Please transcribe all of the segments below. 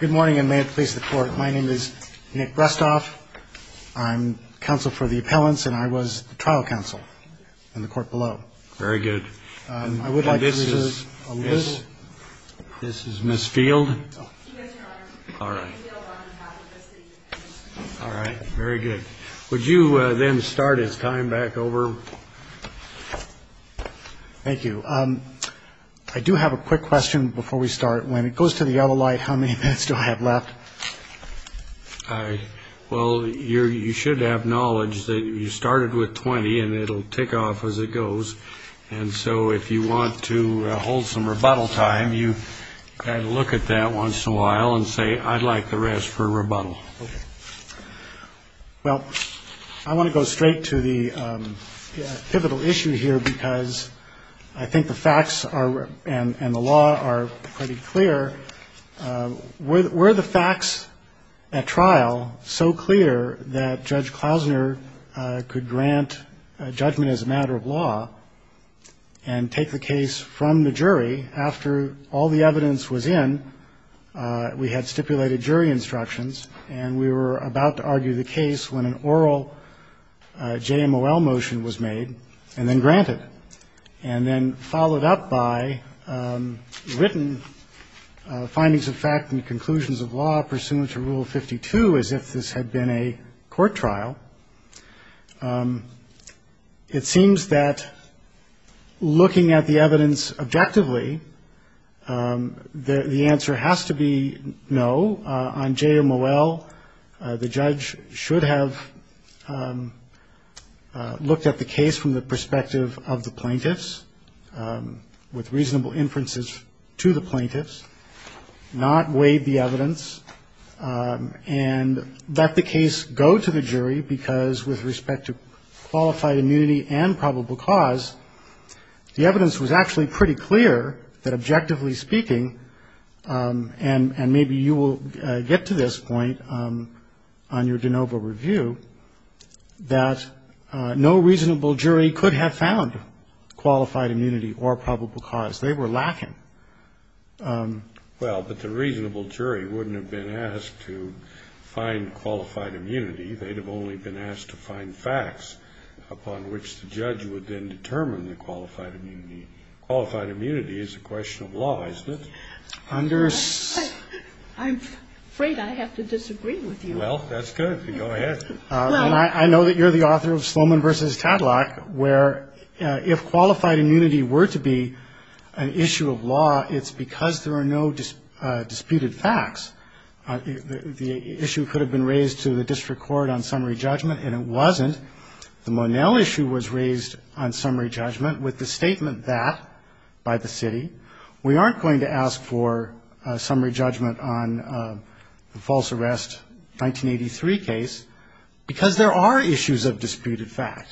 Good morning and may it please the court. My name is Nick Brestov. I'm counsel for the appellants and I was the trial counsel in the court below. Very good. This is Miss Field. All right. All right. Very good. Would you then start his time back over? Thank you. I do have a quick question before we start. When it goes to the yellow light, how many minutes do I have left? Well, you're you should have knowledge that you started with 20 and it'll take off as it goes. And so if you want to hold some rebuttal time, you look at that once in a while and say, I'd like the rest for rebuttal. Well, I want to go straight to the pivotal issue here, because I think the facts are and the law are pretty clear. Were the facts at trial so clear that Judge Klausner could grant judgment as a matter of law and take the case from the jury after all the evidence was in? We had stipulated jury instructions and we were about to argue the case when an oral JMOL motion was made and then granted and then followed up by written findings of fact and conclusions of law pursuant to Rule 52 as if this had been a court trial. It seems that looking at the evidence objectively, the answer has to be no on JMOL. The judge should have looked at the case from the perspective of the plaintiffs with reasonable inferences to the plaintiffs, not weighed the evidence and let the case go to the jury, because with respect to qualified immunity and probable cause, the evidence was actually pretty clear that, objectively speaking, and maybe you will get to this point on your de novo review, that no reasonable jury could have found qualified immunity or probable cause. They were lacking. Well, but the reasonable jury wouldn't have been asked to find qualified immunity. They'd have only been asked to find facts upon which the judge would then determine the qualified immunity. Qualified immunity is a question of law, isn't it? I'm afraid I have to disagree with you. Well, that's good. You can go ahead. I know that you're the author of Sloman v. Tadlock, where if qualified immunity were to be an issue of law, it's because there are no disputed facts. The issue could have been raised to the district court on summary judgment, and it wasn't. The Monell issue was raised on summary judgment with the statement that, by the city, we aren't going to ask for summary judgment on the false arrest 1983 case because there are issues of disputed fact.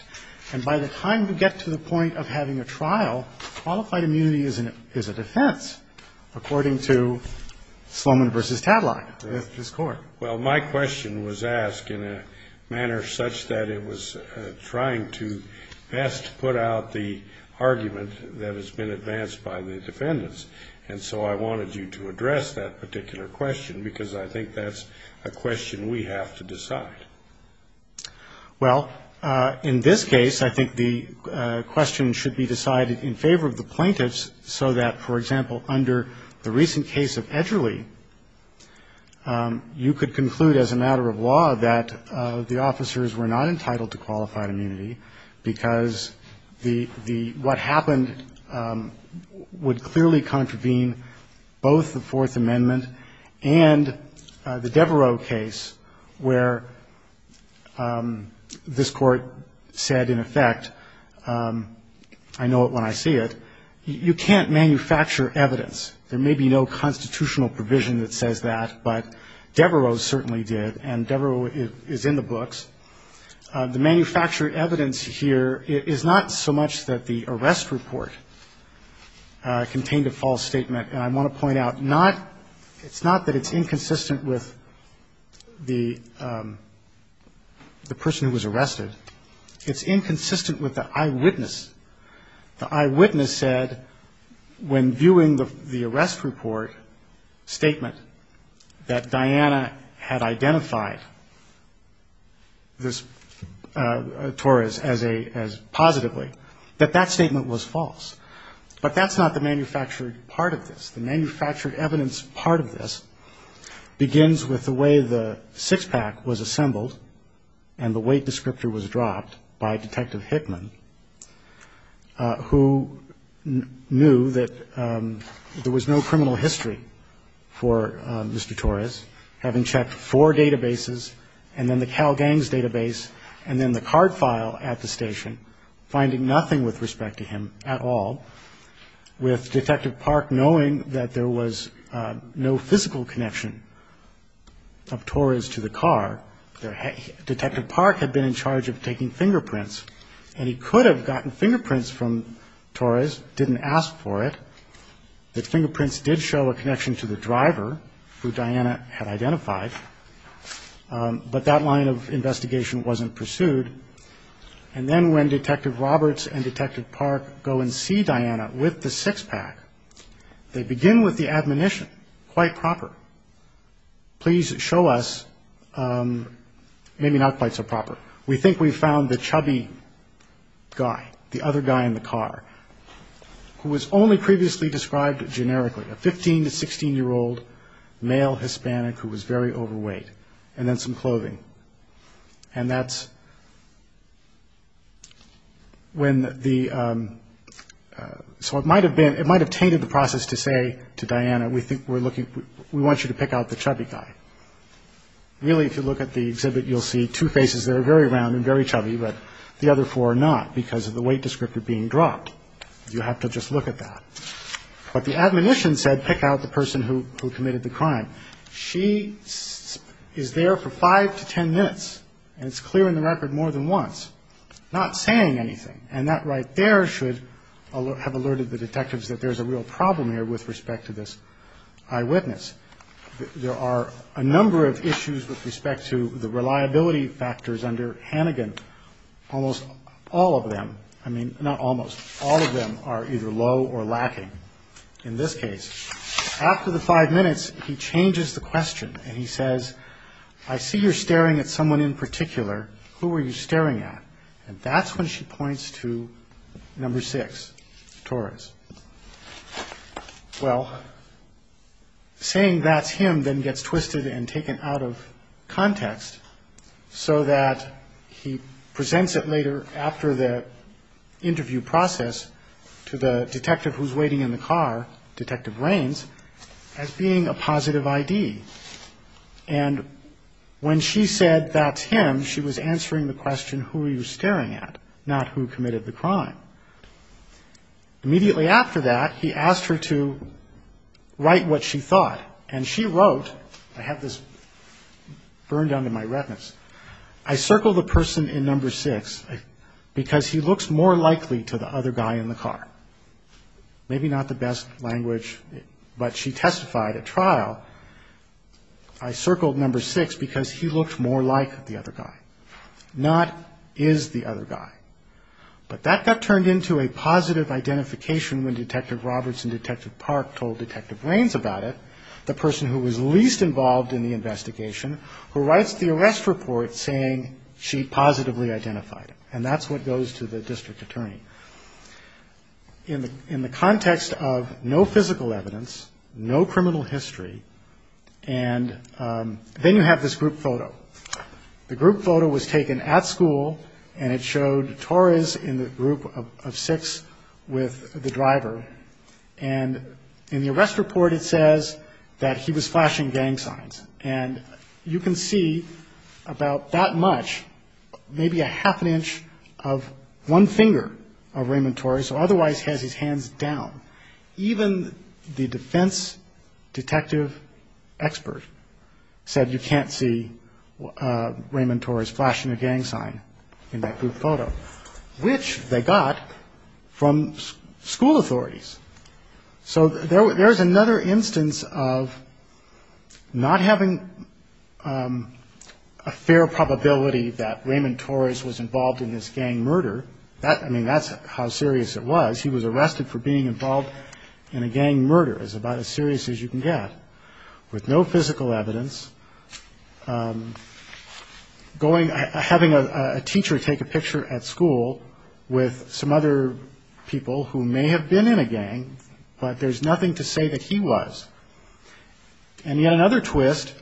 And by the time we get to the point of having a trial, qualified immunity is a defense, according to Sloman v. Tadlock, this court. Well, my question was asked in a manner such that it was trying to best put out the argument that has been advanced by the defendants, and so I wanted you to address that particular question because I think that's a question we have to decide. Well, in this case, I think the question should be decided in favor of the plaintiffs, so that, for example, under the recent case of Edgerly, you could conclude as a matter of law that the officers were not entitled to qualified immunity because the what happened would clearly contravene both the Fourth Amendment and the Devereaux case where this Court said, in effect, I know it when I see it, you can't manufacture evidence. There may be no constitutional provision that says that, but Devereaux certainly did, and Devereaux is in the books. The manufactured evidence here is not so much that the arrest report contained a false statement, and I want to point out not that it's inconsistent with the person who was arrested. It's inconsistent with the eyewitness. The eyewitness said when viewing the arrest report statement that Diana had identified this Torres as positively, that that statement was false, but that's not the manufactured part of this. The manufactured evidence part of this begins with the way the six-pack was assembled and the weight descriptor was dropped by Detective Hickman, who knew that there was no criminal history for Mr. Torres, having checked four databases and then the Cal Gangs database and then the card file at the station, finding nothing with respect to him at all, with Detective Park knowing that there was no physical connection of Torres to the car, Detective Park had been in charge of taking fingerprints, and he could have gotten fingerprints from Torres, didn't ask for it, the fingerprints did show a connection to the driver who Diana had identified, but that line of investigation wasn't pursued, and then when Detective Roberts and Detective Park go and see Diana with the six-pack, they begin with the following line of questioning, and that line of questioning is, we think we've found the chubby guy, the other guy in the car, who was only previously described generically, a 15 to 16-year-old male Hispanic who was very overweight, and then some clothing, and that's when the, so it might have been, it might have tainted the process to say to Diana, we think we're looking, we want you to pick out the chubby guy. Really, if you look at the exhibit, you'll see two faces that are very round and very chubby, but the other four are not, because of the weight descriptor being dropped. You have to just look at that. But the admonition said pick out the person who committed the crime. She is there for five to ten minutes, and it's clear in the record more than once, not saying anything, and that right there should have alerted the detectives that there's a real problem here with respect to this eyewitness. There are a number of issues with respect to the reliability factors under Hannigan. Almost all of them, I mean, not almost, all of them are either low or lacking. In this case, after the five minutes, he changes the question, and he says, I see you're staring at someone in particular. Who are you staring at? And that's when she points to number six, Torres. Well, saying that's him then gets twisted and taken out of context, so that he presents it later after the interview process to the detective who's waiting in the car, Detective Raines, as being a positive ID. And when she said that's him, she was answering the question, who are you staring at, not who committed the crime. Immediately after that, he asked her to write what she thought, and she wrote, I have this burned down to my retinas, I circled the person in number six because he looks more likely to the other guy in the car. Maybe not the best language, but she testified at trial, I circled number six because he looked more like the other guy, not is the other guy. But that got turned into a positive identification when Detective Roberts and Detective Park told Detective Raines about it, the person who was least involved in the investigation, who writes the arrest report saying she positively identified him, and that's what goes to the district attorney. In the context of no physical evidence, no criminal history, and then you have this group photo. The group photo was taken at school, and it showed Torres in the group of six with the driver, and in the arrest report it says that he was flashing gang signs, and you can see about that much, maybe a half an inch of one finger of Raymond Torres, or otherwise has his hands down. Even the defense detective expert said you can't see Raymond Torres flashing a gang sign in that group photo, which they got from school authorities. So there was another instance of not having a fair probability that Raymond Torres was involved in this gang murder. I mean, that's how serious it was. He was flashing a gang sign in a group of six, with no physical evidence, having a teacher take a picture at school with some other people who may have been in a gang, but there's nothing to say that he was. And yet another twist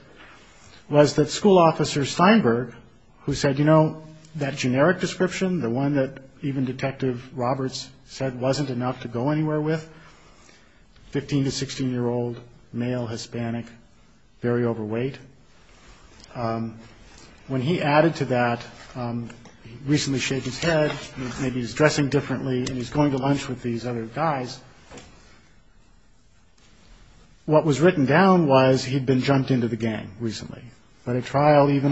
was that school officer Steinberg, who said, you know, that generic description, the one that even Detective Roberts said wasn't enough to go anywhere with, 15- to 16-year-old boy with a gun, was male, Hispanic, very overweight. When he added to that, recently shaved his head, maybe he's dressing differently, and he's going to lunch with these other guys, what was written down was he'd been jumped into the gang recently. But at trial, even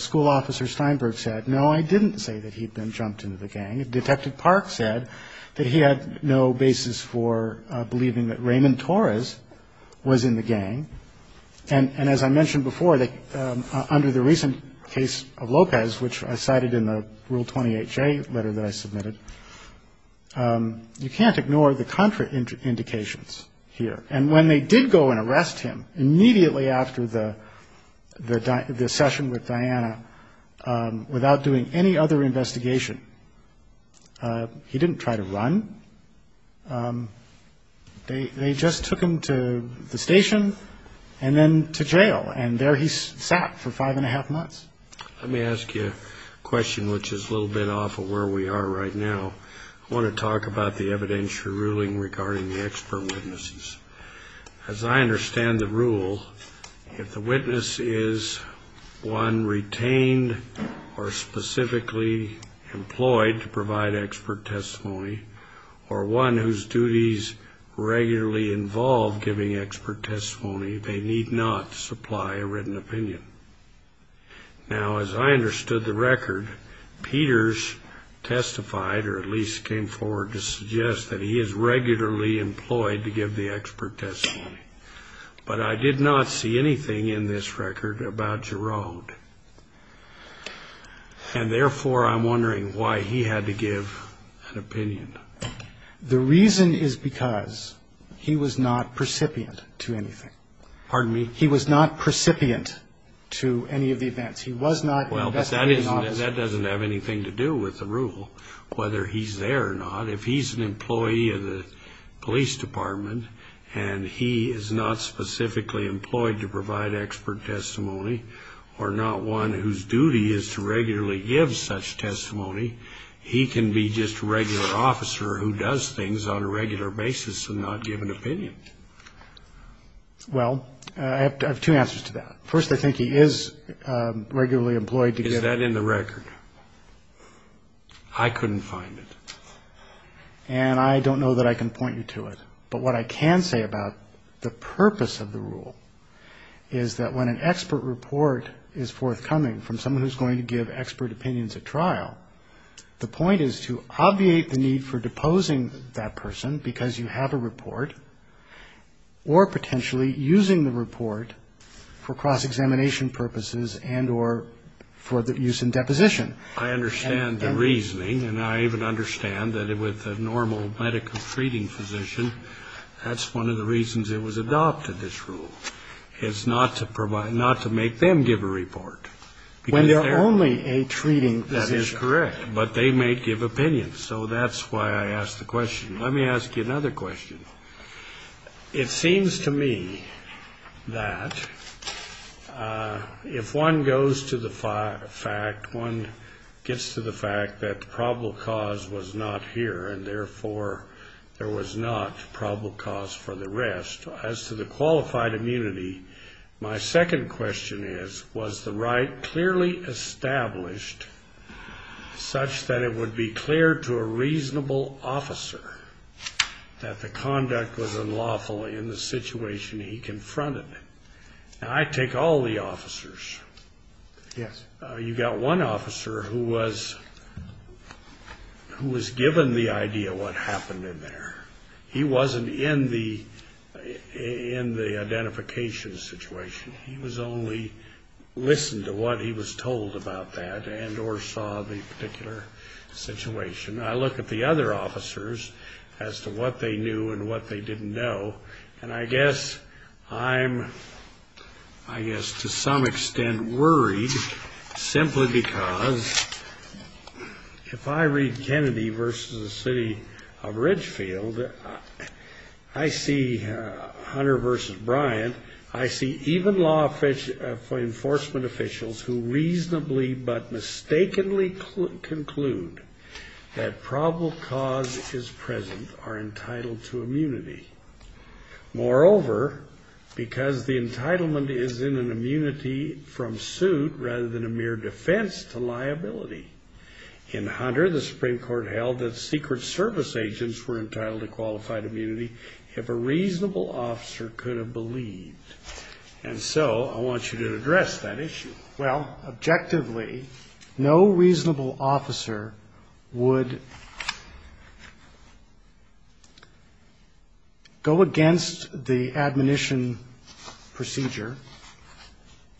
school officer Steinberg said, no, I didn't say that he'd been jumped into the gang. Detective Park said that he had no basis for believing that Raymond Torres was involved in the gang. And as I mentioned before, under the recent case of Lopez, which I cited in the Rule 28-J letter that I submitted, you can't ignore the contraindications here. And when they did go and arrest him, immediately after the session with Diana, without doing any other investigation, he just took him to the station and then to jail. And there he sat for five and a half months. Let me ask you a question which is a little bit off of where we are right now. I want to talk about the evidentiary ruling regarding the expert witnesses. As I understand the rule, if the witness is one retained or specifically employed to provide expert testimony, or one whose duties regularly involve giving expert testimony, they need not supply a written opinion. Now, as I understood the record, Peters testified or at least came forward to suggest that he is regularly employed to give the expert testimony. But I did not see anything in this record about Giroud. And therefore, I'm wondering why he had to give an opinion. Because he was not precipitant to anything. He was not precipitant to any of the events. He was not an investigating officer. Well, that doesn't have anything to do with the rule, whether he's there or not. If he's an employee of the police department and he is not specifically employed to provide expert testimony, or not one whose duty is to regularly give such testimony, he can be just a regular officer who does things on a regular basis and not give an opinion. Well, I have two answers to that. First, I think he is regularly employed to give... Is that in the record? I couldn't find it. And I don't know that I can point you to it. But what I can say about the purpose of the rule is that when an expert report is submitted, there is a need for deposing that person, because you have a report, or potentially using the report for cross-examination purposes and or for the use in deposition. I understand the reasoning, and I even understand that with a normal medical treating physician, that's one of the reasons it was adopted, this rule, is not to provide, not to make them give a report. When they're only a treating physician. That is correct. But they may give opinions. So that's why I asked the question. Let me ask you another question. It seems to me that if one goes to the fact, one gets to the fact that the probable cause was not here, and therefore there was not probable cause for the rest. As to the qualified immunity, my second question is, was the right clearly established such that it would be clear to a reasonable officer that the conduct was unlawful in the situation he confronted? I take all the officers. You've got one officer who was given the idea of what happened in there. He wasn't in the identification situation. He was only listened to what he was told about that, and or saw the particular situation. I look at the other officers as to what they knew and what they didn't know, and I guess I'm, I guess to some extent worried, simply because, if I read Kennedy versus the city of Ridgefield, I see Hunter versus Bryant, I see even law enforcement officials who reasonably, but mistakenly, conclude that probable cause is present, are entitled to immunity. Moreover, because the entitlement is in an immunity from suit rather than a mere defense to liability, in Hunter, the Supreme Court held that Secret Service agents were entitled to qualified immunity if a reasonable officer could have believed. And so I want you to address that issue. Well, objectively, no reasonable officer would go against the admonition procedure,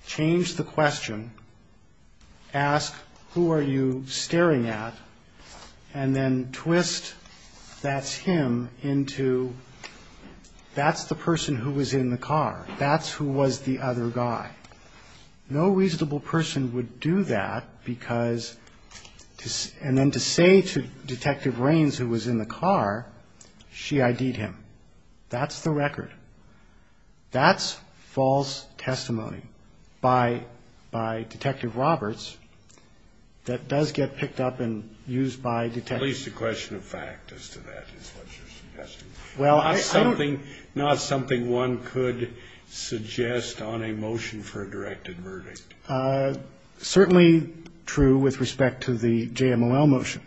change the question, ask who are the people who are entitled to qualified immunity, and then go back to the question, who are you staring at, and then twist that's him into that's the person who was in the car, that's who was the other guy. No reasonable person would do that, because, and then to say to Detective Raines, who was in the car, she ID'd him. That's the record. That's false testimony by Detective Roberts that does get picked up and used by detectives. At least the question of fact as to that is what you're suggesting. Not something one could suggest on a motion for a directed verdict. Certainly true with respect to the JMOL motion,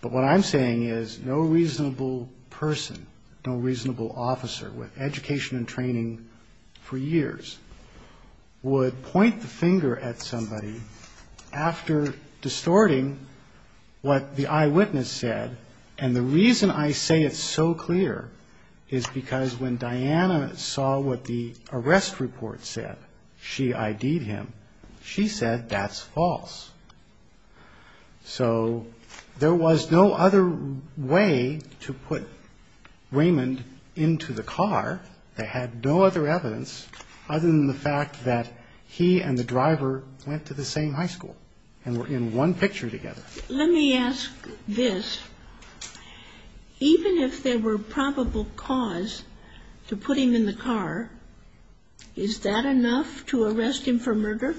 but what I'm saying is no reasonable person, no reasonable officer with education and training for years, would point the finger at somebody after distorting what the eyewitness said, and the reason I say it's so clear is because when Diana saw what the arrest report said, she ID'd him. She said that's false. So there was no other way to put Raymond into the car that had no other evidence other than the fact that he was the person who was in the car. He and the driver went to the same high school and were in one picture together. Let me ask this. Even if there were probable cause to put him in the car, is that enough to arrest him for murder?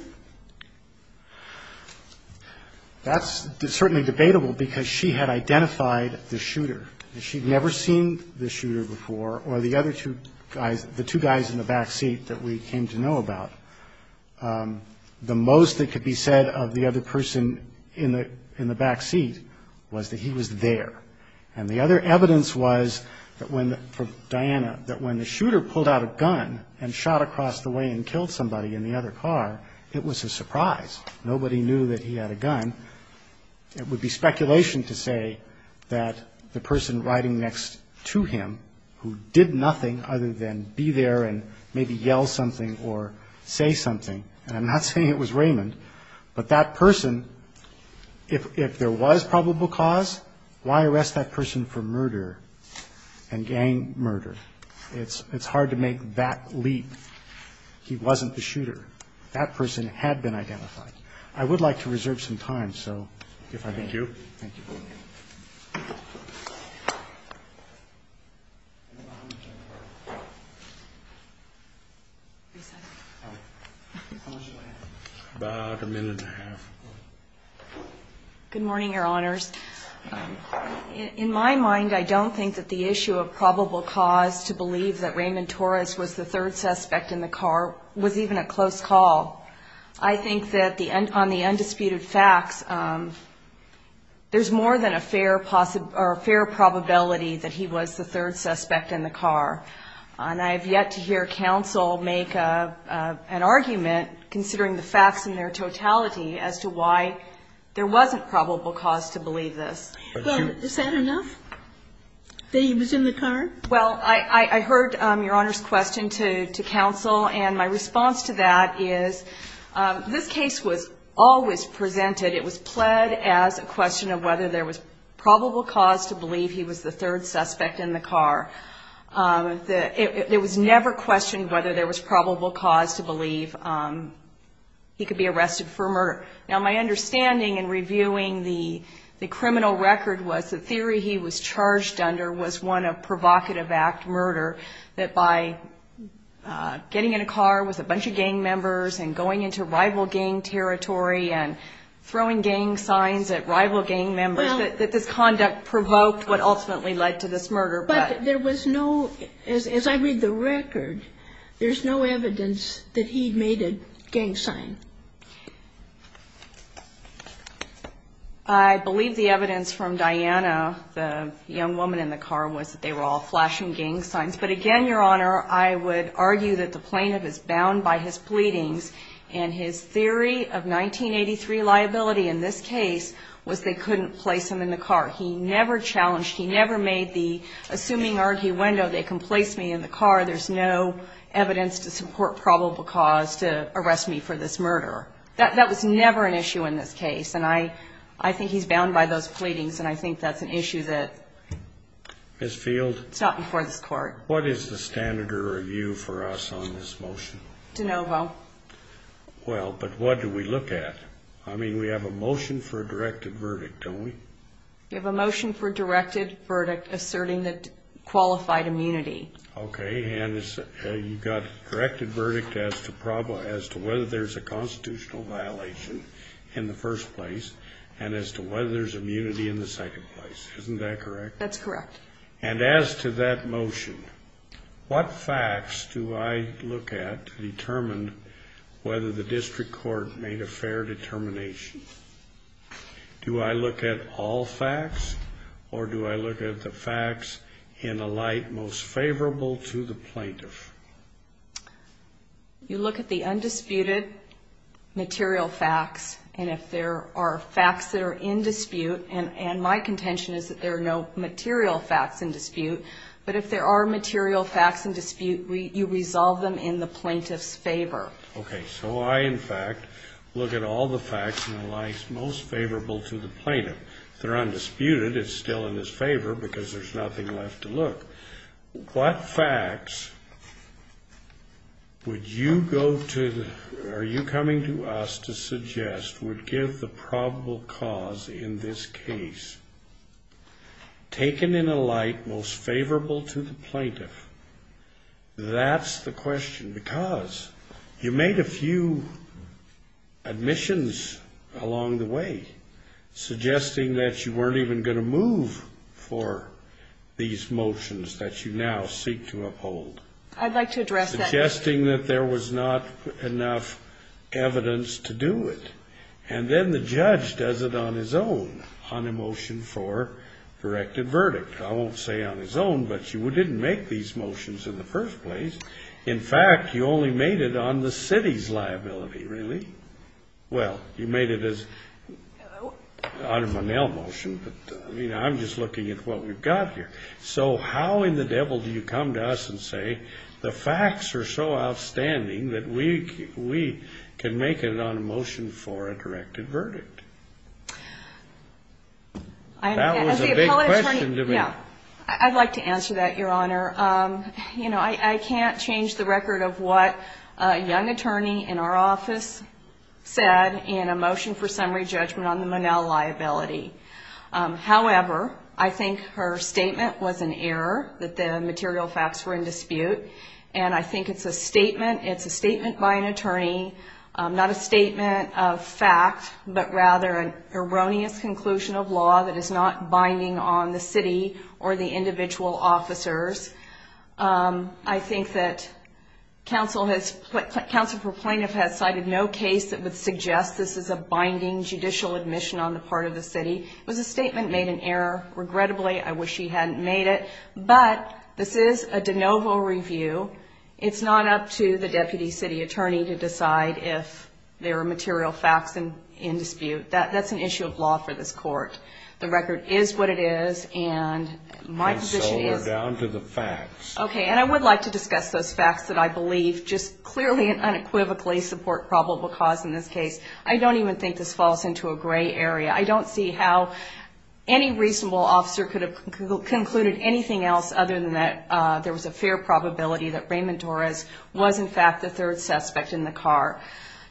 That's certainly debatable, because she had identified the shooter. She'd never seen the shooter before, or the other two guys, the two guys in the back seat that we came to know about. The most that could be said of the other person in the back seat was that he was there. And the other evidence was, for Diana, that when the shooter pulled out a gun and shot across the way and killed somebody in the other car, it was a surprise. Nobody knew that he had a gun. It would be speculation to say that the person riding next to him, who did nothing other than be there and maybe yell something or say something, and I'm not saying it was Raymond, but that person, if there was probable cause, why arrest that person for murder and gang murder? It's hard to make that leap. He wasn't the shooter. That person had been identified. I would like to reserve some time, so if I may. Good morning, Your Honors. In my mind, I don't think that the issue of probable cause to believe that Raymond Torres was the third suspect in the car was even a close call. I think that on the undisputed facts, there's more than a fair probability that he was the third suspect in the car. And I have yet to hear counsel make an argument, considering the facts in their totality, as to why there wasn't probable cause to believe this. Well, is that enough? That he was in the car? Well, I heard Your Honor's question to counsel, and my response to that is, this case was always presented. It was pled as a question of whether there was probable cause to believe he was the third suspect in the car. It was never questioned whether there was probable cause to believe he could be arrested for murder. Now, my understanding in reviewing the criminal record was the theory he was charged under was one of provocation. It was a provocative act, murder, that by getting in a car with a bunch of gang members and going into rival gang territory and throwing gang signs at rival gang members, that this conduct provoked what ultimately led to this murder. But there was no, as I read the record, there's no evidence that he made a gang sign. I believe the evidence from Diana, the young woman in the car, was that they were all flashing gang signs. But again, Your Honor, I would argue that the plaintiff is bound by his pleadings, and his theory of 1983 liability in this case was they couldn't place him in the car. He never challenged, he never made the assuming arguendo, they can place me in the car, there's no evidence to support probable cause to arrest me for this murder. That was never an issue in this case, and I think he's bound by those pleadings, and I think that's an issue that's not before this Court. What is the standard of review for us on this motion? De novo. Well, but what do we look at? I mean, we have a motion for a directed verdict, don't we? We have a motion for a directed verdict asserting that qualified immunity. Okay, and you've got a directed verdict as to whether there's a constitutional violation in the first place, and as to whether there's immunity in the second place. Isn't that correct? That's correct. And as to that motion, what facts do I look at to determine whether the district court made a fair determination? Do I look at all facts, or do I look at the facts in a light most favorable to the plaintiff? You look at the undisputed material facts, and if there are facts that are in dispute, and my contention is that there are no material facts, and dispute, but if there are material facts in dispute, you resolve them in the plaintiff's favor. Okay, so I, in fact, look at all the facts in a light most favorable to the plaintiff. If they're undisputed, it's still in his favor, because there's nothing left to look. What facts would you go to, or are you coming to us to suggest would give the probable cause in this case? Taken in a light most favorable to the plaintiff, that's the question, because you made a few admissions along the way, suggesting that you weren't even going to move for these motions that you now seek to uphold. I'd like to address that. Suggesting that there was not enough evidence to do it. And then the judge does it on his own, on a motion for directed verdict. I won't say on his own, but you didn't make these motions in the first place. In fact, you only made it on the city's liability, really. Well, you made it on a Monell motion, but I'm just looking at what we've got here. So how in the devil do you come to us and say the facts are so outstanding that we can make it on a motion for a directed verdict? That was a big question to me. I'd like to answer that, Your Honor. I can't change the record of what a young attorney in our office said in a motion for summary judgment on the Monell liability. However, I think her statement was an error, that the material facts were in dispute. And I think it's a statement by an attorney, not a statement of fact, but rather an erroneous conclusion of law that is not binding on the city or the individual officers. I think that counsel for plaintiff has cited no case that would suggest this is a binding judicial admission on the part of the city. It was a statement made in error. Regrettably, I wish she hadn't made it. But this is a de novo review. It's not up to the deputy city attorney to decide if there are material facts in dispute. That's an issue of law for this court. The record is what it is, and my position is... And so are down to the facts. Okay, and I would like to discuss those facts that I believe just clearly and unequivocally support probable cause in this case. I don't even think this falls into a gray area. I don't see how any reasonable officer could have concluded anything else other than that there was a fair probability that Raymond Torres was, in fact, the third suspect in the car.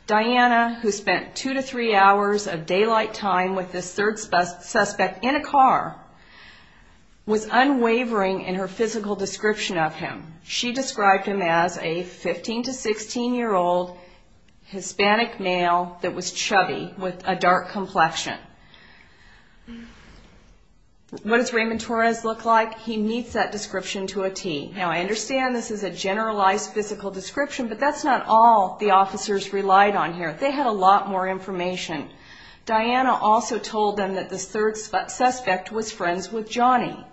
Diana, who spent two to three hours of daylight time with this third suspect in a car, was unwavering in her physical description of him. She described him as a 15 to 16-year-old Hispanic male that was chubby with a dark complexion. What does Raymond Torres look like? He meets that description to a T. Now, I understand this is a generalized physical description, but that's not all the officers relied on here. They had a lot more information. Diana also told them that this third suspect was friends with Johnny.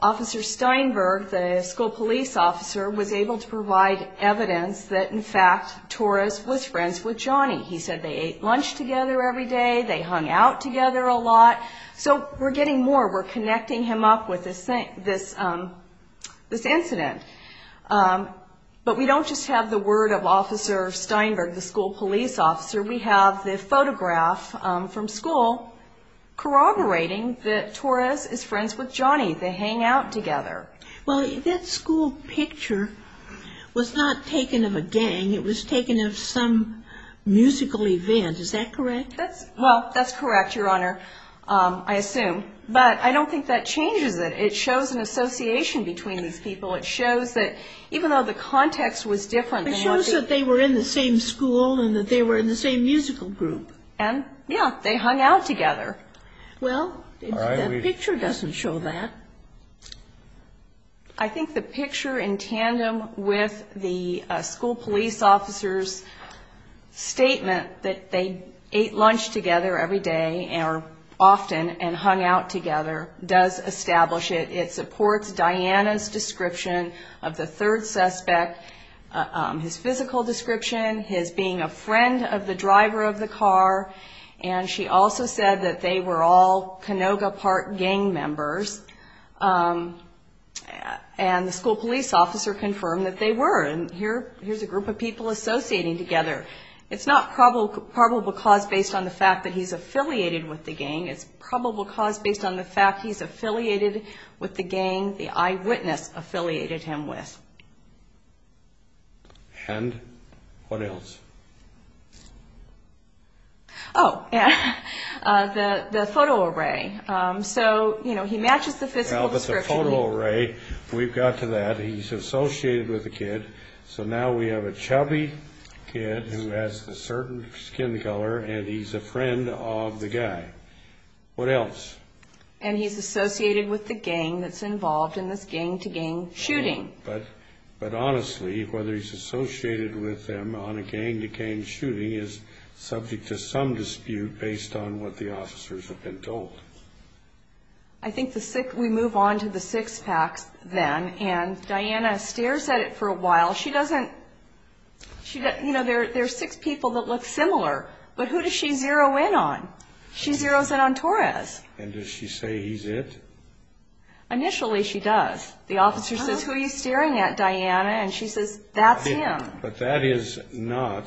Officer Steinberg, the school police officer, was able to provide evidence that, in fact, Torres was friends with Johnny. He said they ate lunch together every day, they hung out together a lot. So we're getting more. We're connecting him up with this incident. But we don't just have the word of Officer Steinberg, the school police officer. We have the photograph from school corroborating that Torres is friends with Johnny. Well, that school picture was not taken of a gang. It was taken of some musical event, is that correct? Well, that's correct, Your Honor, I assume. But I don't think that changes it. It shows an association between these people. It shows that even though the context was different. It shows that they were in the same school and that they were in the same musical group. And, yeah, they hung out together. Well, that picture doesn't show that. I think the picture in tandem with the school police officer's statement that they ate lunch together every day, or often, and hung out together, does establish it. It supports Diana's description of the third suspect, his physical description, his being a friend of the driver of the car. And she also said that they were all Canoga Park gang members. And the school police officer confirmed that they were. And here's a group of people associating together. It's not probable cause based on the fact that he's affiliated with the gang. It's probable cause based on the fact he's affiliated with the gang the eyewitness affiliated him with. And what else? Oh, the photo array. So, you know, he matches the physical description. We've got to that. He's associated with a kid. So now we have a chubby kid who has a certain skin color and he's a friend of the guy. What else? And he's associated with the gang that's involved in this gang-to-gang shooting. But honestly, whether he's associated with them on a gang-to-gang shooting is subject to some dispute based on what the officers have been told. I think we move on to the six packs then. And Diana stares at it for a while. She doesn't, you know, there are six people that look similar. But who does she zero in on? She zeroes in on Torres. And does she say he's it? Initially she does. The officer says, who are you staring at, Diana? And she says, that's him. But that is not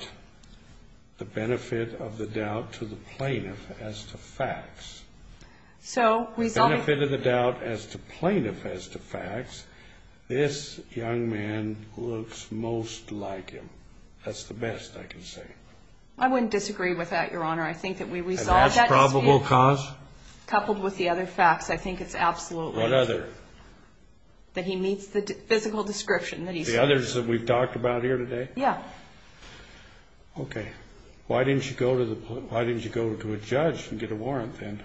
the benefit of the doubt to the plaintiff as to facts. The benefit of the doubt as to plaintiff as to facts, this young man looks most like him. That's the best I can say. I wouldn't disagree with that, Your Honor. And that's probable cause? What other? The others that we've talked about here today? Yeah. Okay. Why didn't you go to a judge and get a warrant then?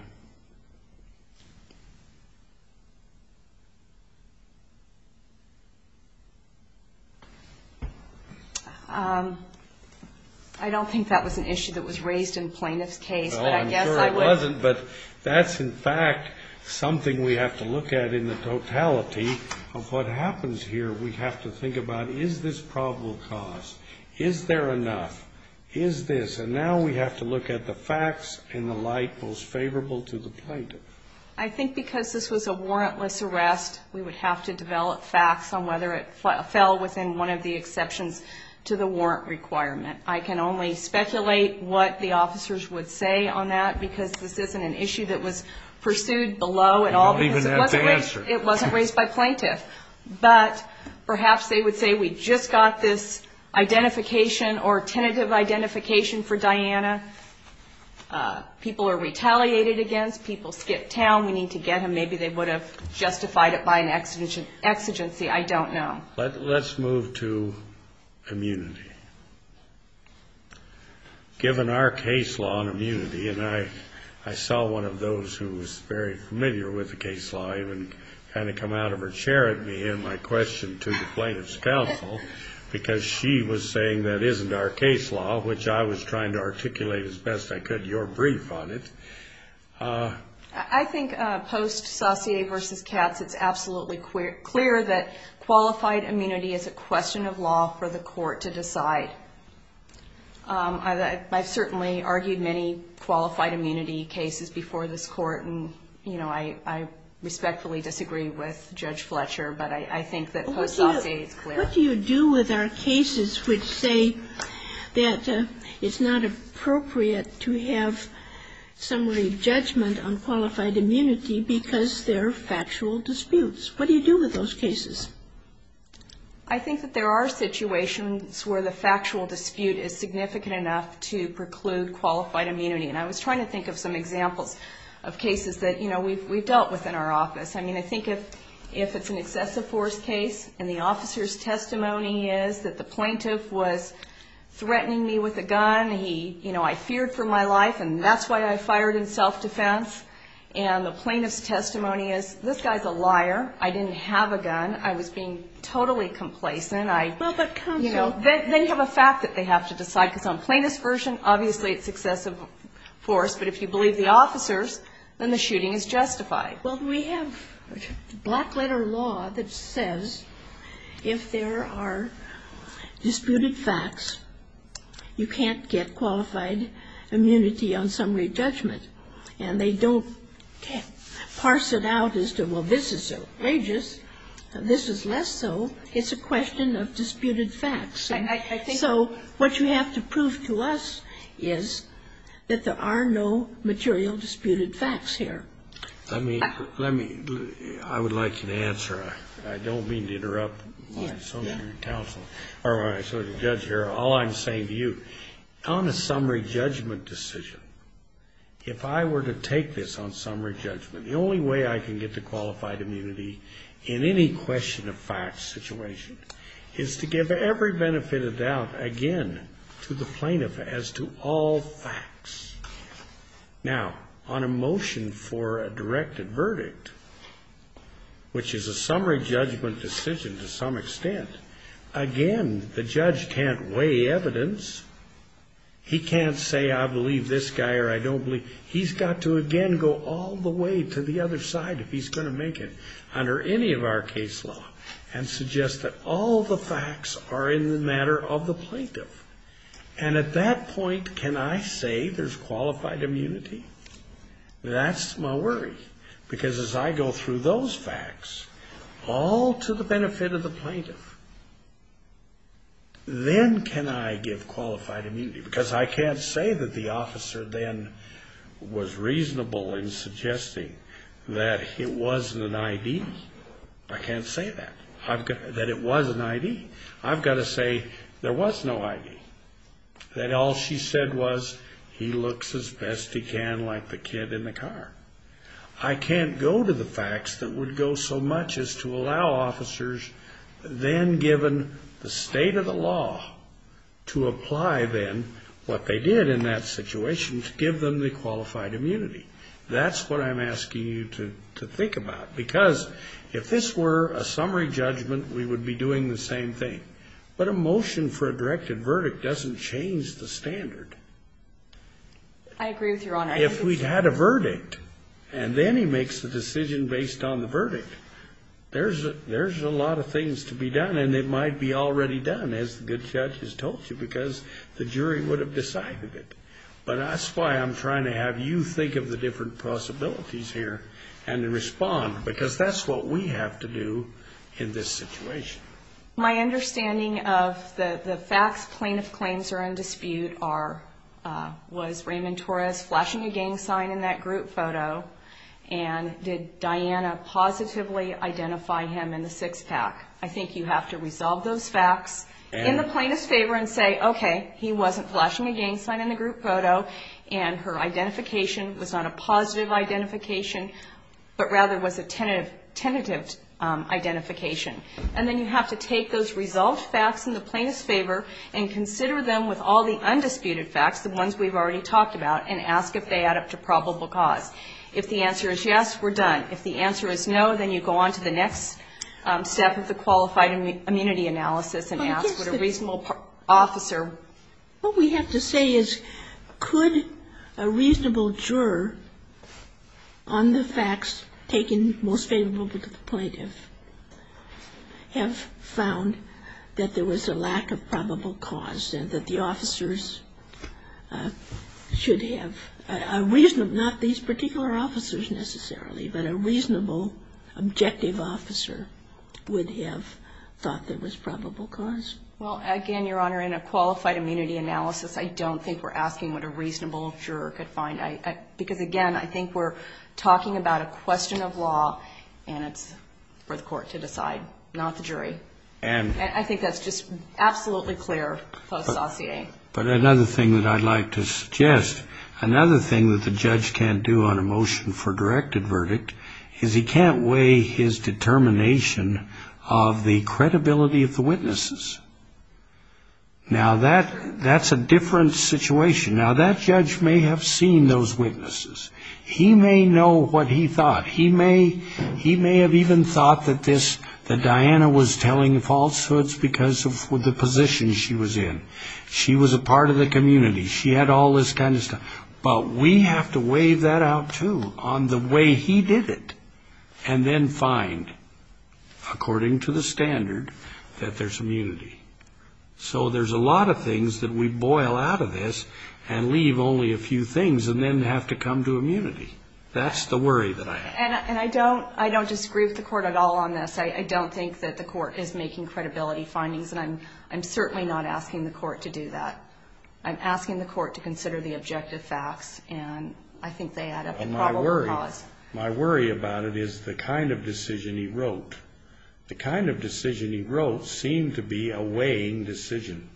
I don't think that was an issue that was raised in the plaintiff's case. I'm sure it wasn't, but that's in fact something we have to look at in the totality of what happens here. We have to think about, is this probable cause? Is there enough? Is this? And now we have to look at the facts and the light most favorable to the plaintiff. I think because this was a warrantless arrest, we would have to develop facts on whether it fell within one of the exceptions to the warrant requirement. I can only speculate what the officers would say on that, because this isn't an issue that was pursued below at all, because it wasn't raised by plaintiff. But perhaps they would say we just got this identification or tentative identification for Diana. People are retaliated against. People skip town. We need to get him. Maybe they would have justified it by an exigency. I don't know. Let's move to immunity. Given our case law on immunity, and I saw one of those who was very familiar with the case law, even kind of come out of her chair at me and my question to the plaintiff's counsel, because she was saying that isn't our case law, which I was trying to articulate as best I could your brief on it. I think post Saussure v. Katz, it's absolutely clear that qualified immunity is a question of law for the court to decide. I've certainly argued many qualified immunity cases before this court, and I respectfully disagree with Judge Fletcher, but I think that post Saussure is clear. What do you do with our cases which say that it's not appropriate to have some way of judgment on qualified immunity because they're factual disputes? What do you do with those cases? I think that there are situations where the factual dispute is significant enough to preclude qualified immunity, and I was trying to think of some examples of cases that we've dealt with in our office. I mean, I think if it's an excessive force case and the officer's testimony is that the plaintiff was threatening me with a gun, I feared for my life, and that's why I fired in self-defense, and the plaintiff's testimony is, this guy's a liar, I didn't have a gun, I was being totally complacent, then you have a fact that they have to decide, because on plaintiff's version, obviously it's excessive force, but if you believe the officers, then the shooting is justified. Well, we have black-letter law that says if there are disputed facts, you can't get qualified immunity on summary judgment. And they don't parse it out as to, well, this is outrageous, this is less so. It's a question of disputed facts. So what you have to prove to us is that there are no material disputed facts here. I mean, let me – I would like you to answer. I don't mean to interrupt my associate counsel, or my associate judge here. All I'm saying to you, on a summary judgment decision, if I were to take this on summary judgment, the only way I can get to qualified immunity in any question-of-facts situation is to give every benefit of doubt, again, to the plaintiff as to all facts. Now, on a motion for a directed verdict, which is a summary judgment decision to some extent, again, the judge can't weigh evidence. He can't say, I believe this guy or I don't believe – he's got to, again, go all the way to the other side if he's going to make it under any of our case law and suggest that all the facts are in the matter of the plaintiff. And at that point, can I say there's qualified immunity? That's my worry, because as I go through those facts, all to the benefit of the plaintiff, then can I give qualified immunity? Because I can't say that the officer then was reasonable in suggesting that it wasn't an I.D. I can't say that, that it was an I.D. I've got to say there was no I.D. That all she said was, he looks as best he can like the kid in the car. I can't go to the facts that would go so much as to allow officers, then given the state of the law, to apply then what they did in that situation to give them the qualified immunity. That's what I'm asking you to think about, because if this were a summary judgment, we would be doing the same thing. But a motion for a directed verdict doesn't change the standard. I agree with you, Your Honor. If we had a verdict, and then he makes a decision based on the verdict, there's a lot of things to be done. And they might be already done, as the good judge has told you, because the jury would have decided it. But that's why I'm trying to have you think of the different possibilities here and respond, because that's what we have to do in this situation. My understanding of the facts plaintiff claims are in dispute are, was Raymond Torres flashing a gang sign in that group photo, and did Diana positively identify him in the six-pack? I think you have to resolve those facts in the plaintiff's favor and say, okay, he wasn't flashing a gang sign in the group photo, and her identification was not a positive identification, but rather was a tentative identification. And then you have to take those resolved facts in the plaintiff's favor and consider them with all the undisputed facts, the ones we've already talked about, and ask if they add up to probable cause. If the answer is yes, we're done. If the answer is no, then you go on to the next step of the qualified immunity analysis and ask what a reasonable officer. What we have to say is could a reasonable juror on the facts taken most favorably to the plaintiff have found that there was a lack of probable cause and that the officers should have a reasonable, not these particular officers necessarily, but a reasonable objective officer would have thought there was probable cause? Well, again, Your Honor, in a qualified immunity analysis, I don't think we're asking what a reasonable juror could find. Because, again, I think we're talking about a question of law, and it's for the court to decide, not the jury. And I think that's just absolutely clear post-saucier. But another thing that I'd like to suggest, another thing that the judge can't do on a motion for directed verdict is he can't weigh his determination of the credibility of the witnesses. Now, that's a different situation. Now, that judge may have seen those witnesses. He may know what he thought. He may have even thought that Diana was telling falsehoods because of the position she was in. She was a part of the community. She had all this kind of stuff. But we have to weigh that out, too, on the way he did it, and then find, according to the standard, that there's immunity. So there's a lot of things that we boil out of this and leave only a few things and then have to come to immunity. That's the worry that I have. And I don't disagree with the court at all on this. I don't think that the court is making credibility findings, and I'm certainly not asking the court to do that. I'm asking the court to consider the objective facts, and I think they add up to probable cause. My worry about it is the kind of decision he wrote. The kind of decision he wrote seemed to be a weighing decision,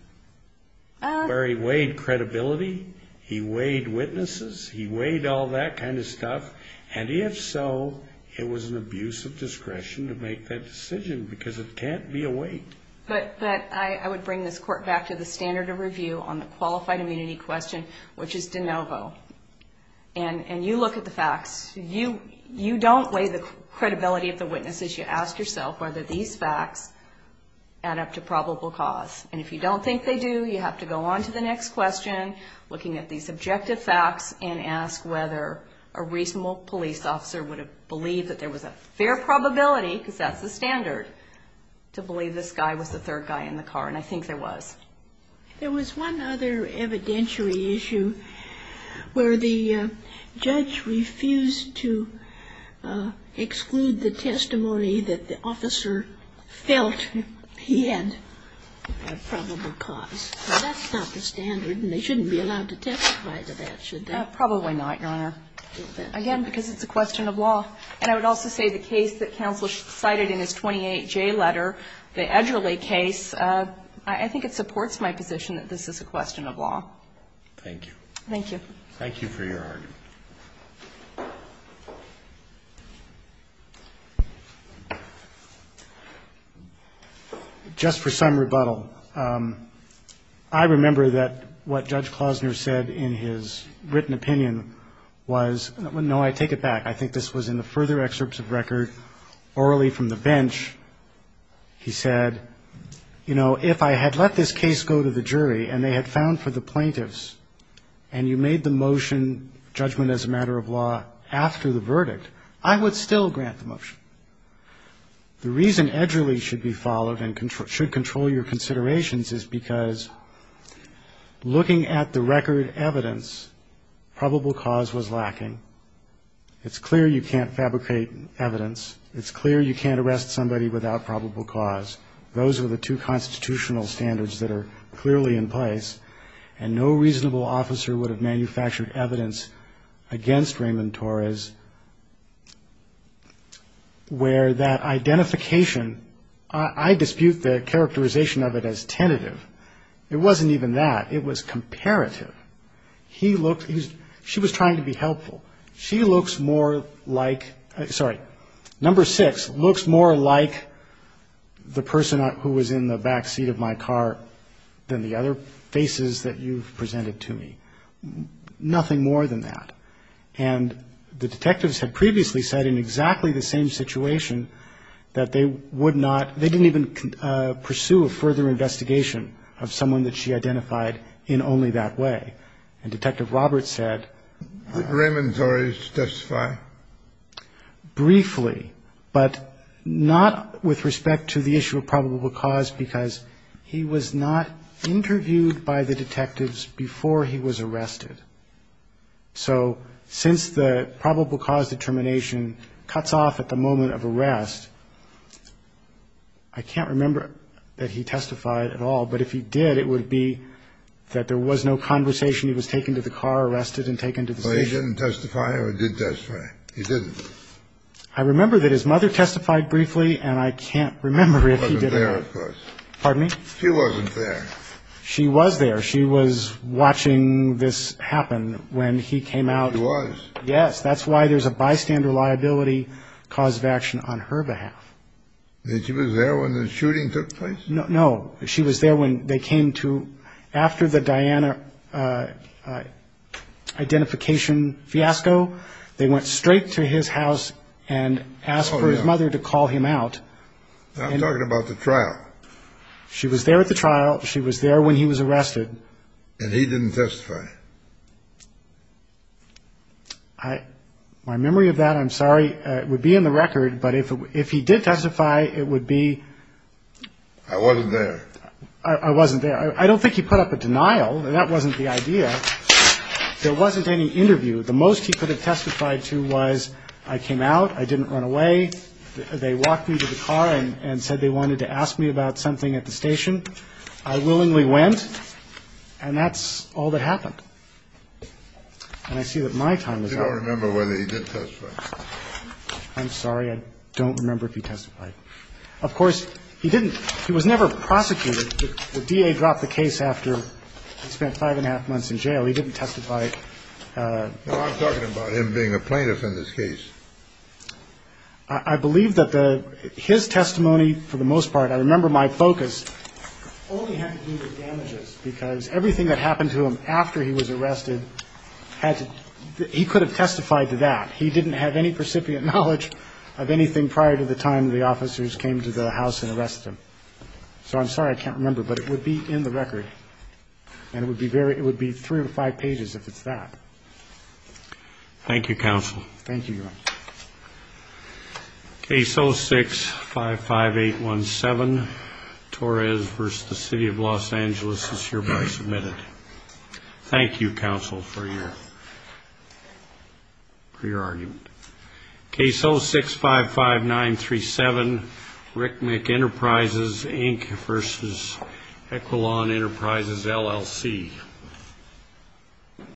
where he weighed credibility, he weighed witnesses, he weighed all that kind of stuff. And if so, it was an abuse of discretion to make that decision because it can't be a weight. But I would bring this court back to the standard of review on the qualified immunity question, which is de novo. And you look at the facts. You don't weigh the credibility of the witnesses. You ask yourself whether these facts add up to probable cause. And if you don't think they do, you have to go on to the next question, looking at these objective facts, and ask whether a reasonable police officer would have believed that there was a fair probability, because that's the standard, to believe this guy was the third guy in the car. And I think there was. There was one other evidentiary issue where the judge refused to exclude the testimony that the officer felt he had probable cause. That's not the standard, and they shouldn't be allowed to testify to that, should they? Probably not, Your Honor. Again, because it's a question of law. And I would also say the case that counsel cited in his 28J letter, the Edgerly case, I think it supports my position that this is a question of law. Thank you. Thank you. Thank you for your argument. Just for some rebuttal. I remember that what Judge Klosner said in his written opinion was no, I take it back. I think this was in the further excerpts of record, orally from the bench. He said, you know, if I had let this case go to the jury and they had found for the plaintiffs and you made the motion judgment as a matter of law after the verdict, I would still grant the motion. The reason Edgerly should be followed and should control your considerations is because looking at the record evidence, probable cause was lacking. It's clear you can't fabricate evidence. It's clear you can't arrest somebody without probable cause. Those are the two constitutional standards that are clearly in place. And no reasonable officer would have manufactured evidence against Raymond Torres where that identification, I dispute the characterization of it as tentative. It wasn't even that. It was comparative. He looked, she was trying to be helpful. She looks more like, sorry, number six, looks more like the person who was in the back seat of my car than the other faces that you've presented to me. Nothing more than that. And the detectives had previously said in exactly the same situation that they would not, they didn't even pursue a further investigation of someone that she identified in only that way. And Detective Roberts said. Raymond Torres testified. Briefly, but not with respect to the issue of probable cause because he was not interviewed by the detectives before he was arrested. So since the probable cause determination cuts off at the moment of arrest, I can't remember that he testified at all. But if he did, it would be that there was no conversation. He was taken to the car, arrested, and taken to the station. So he didn't testify or did testify? He didn't. I remember that his mother testified briefly, and I can't remember if he did or not. She wasn't there, of course. Pardon me? She wasn't there. She was there. She was watching this happen when he came out. She was? Yes. That's why there's a bystander liability cause of action on her behalf. She was there when the shooting took place? No. She was there when they came to, after the Diana identification fiasco, they went straight to his house and asked for his mother to call him out. I'm talking about the trial. She was there at the trial. She was there when he was arrested. And he didn't testify? My memory of that, I'm sorry, would be in the record. But if he did testify, it would be. I wasn't there. I wasn't there. I don't think he put up a denial. That wasn't the idea. There wasn't any interview. The most he could have testified to was I came out, I didn't run away, they walked me to the car and said they wanted to ask me about something at the station. I willingly went. And that's all that happened. And I see that my time is up. I don't remember whether he did testify. I'm sorry. I don't remember if he testified. Of course, he didn't. He was never prosecuted. The DA dropped the case after he spent five and a half months in jail. He didn't testify. I'm talking about him being a plaintiff in this case. I believe that his testimony, for the most part, I remember my focus, only had to do with damages because everything that happened to him after he was arrested, he could have testified to that. He didn't have any precipient knowledge of anything prior to the time the officers came to the house and arrested him. So I'm sorry I can't remember, but it would be in the record. And it would be three or five pages if it's that. Thank you, Counsel. Thank you, Your Honor. Case 0655817, Torres v. The City of Los Angeles is hereby submitted. Thank you, Counsel, for your argument. Case 0655937, Rick McEnterprises, Inc. v. Equilon Enterprises, LLC.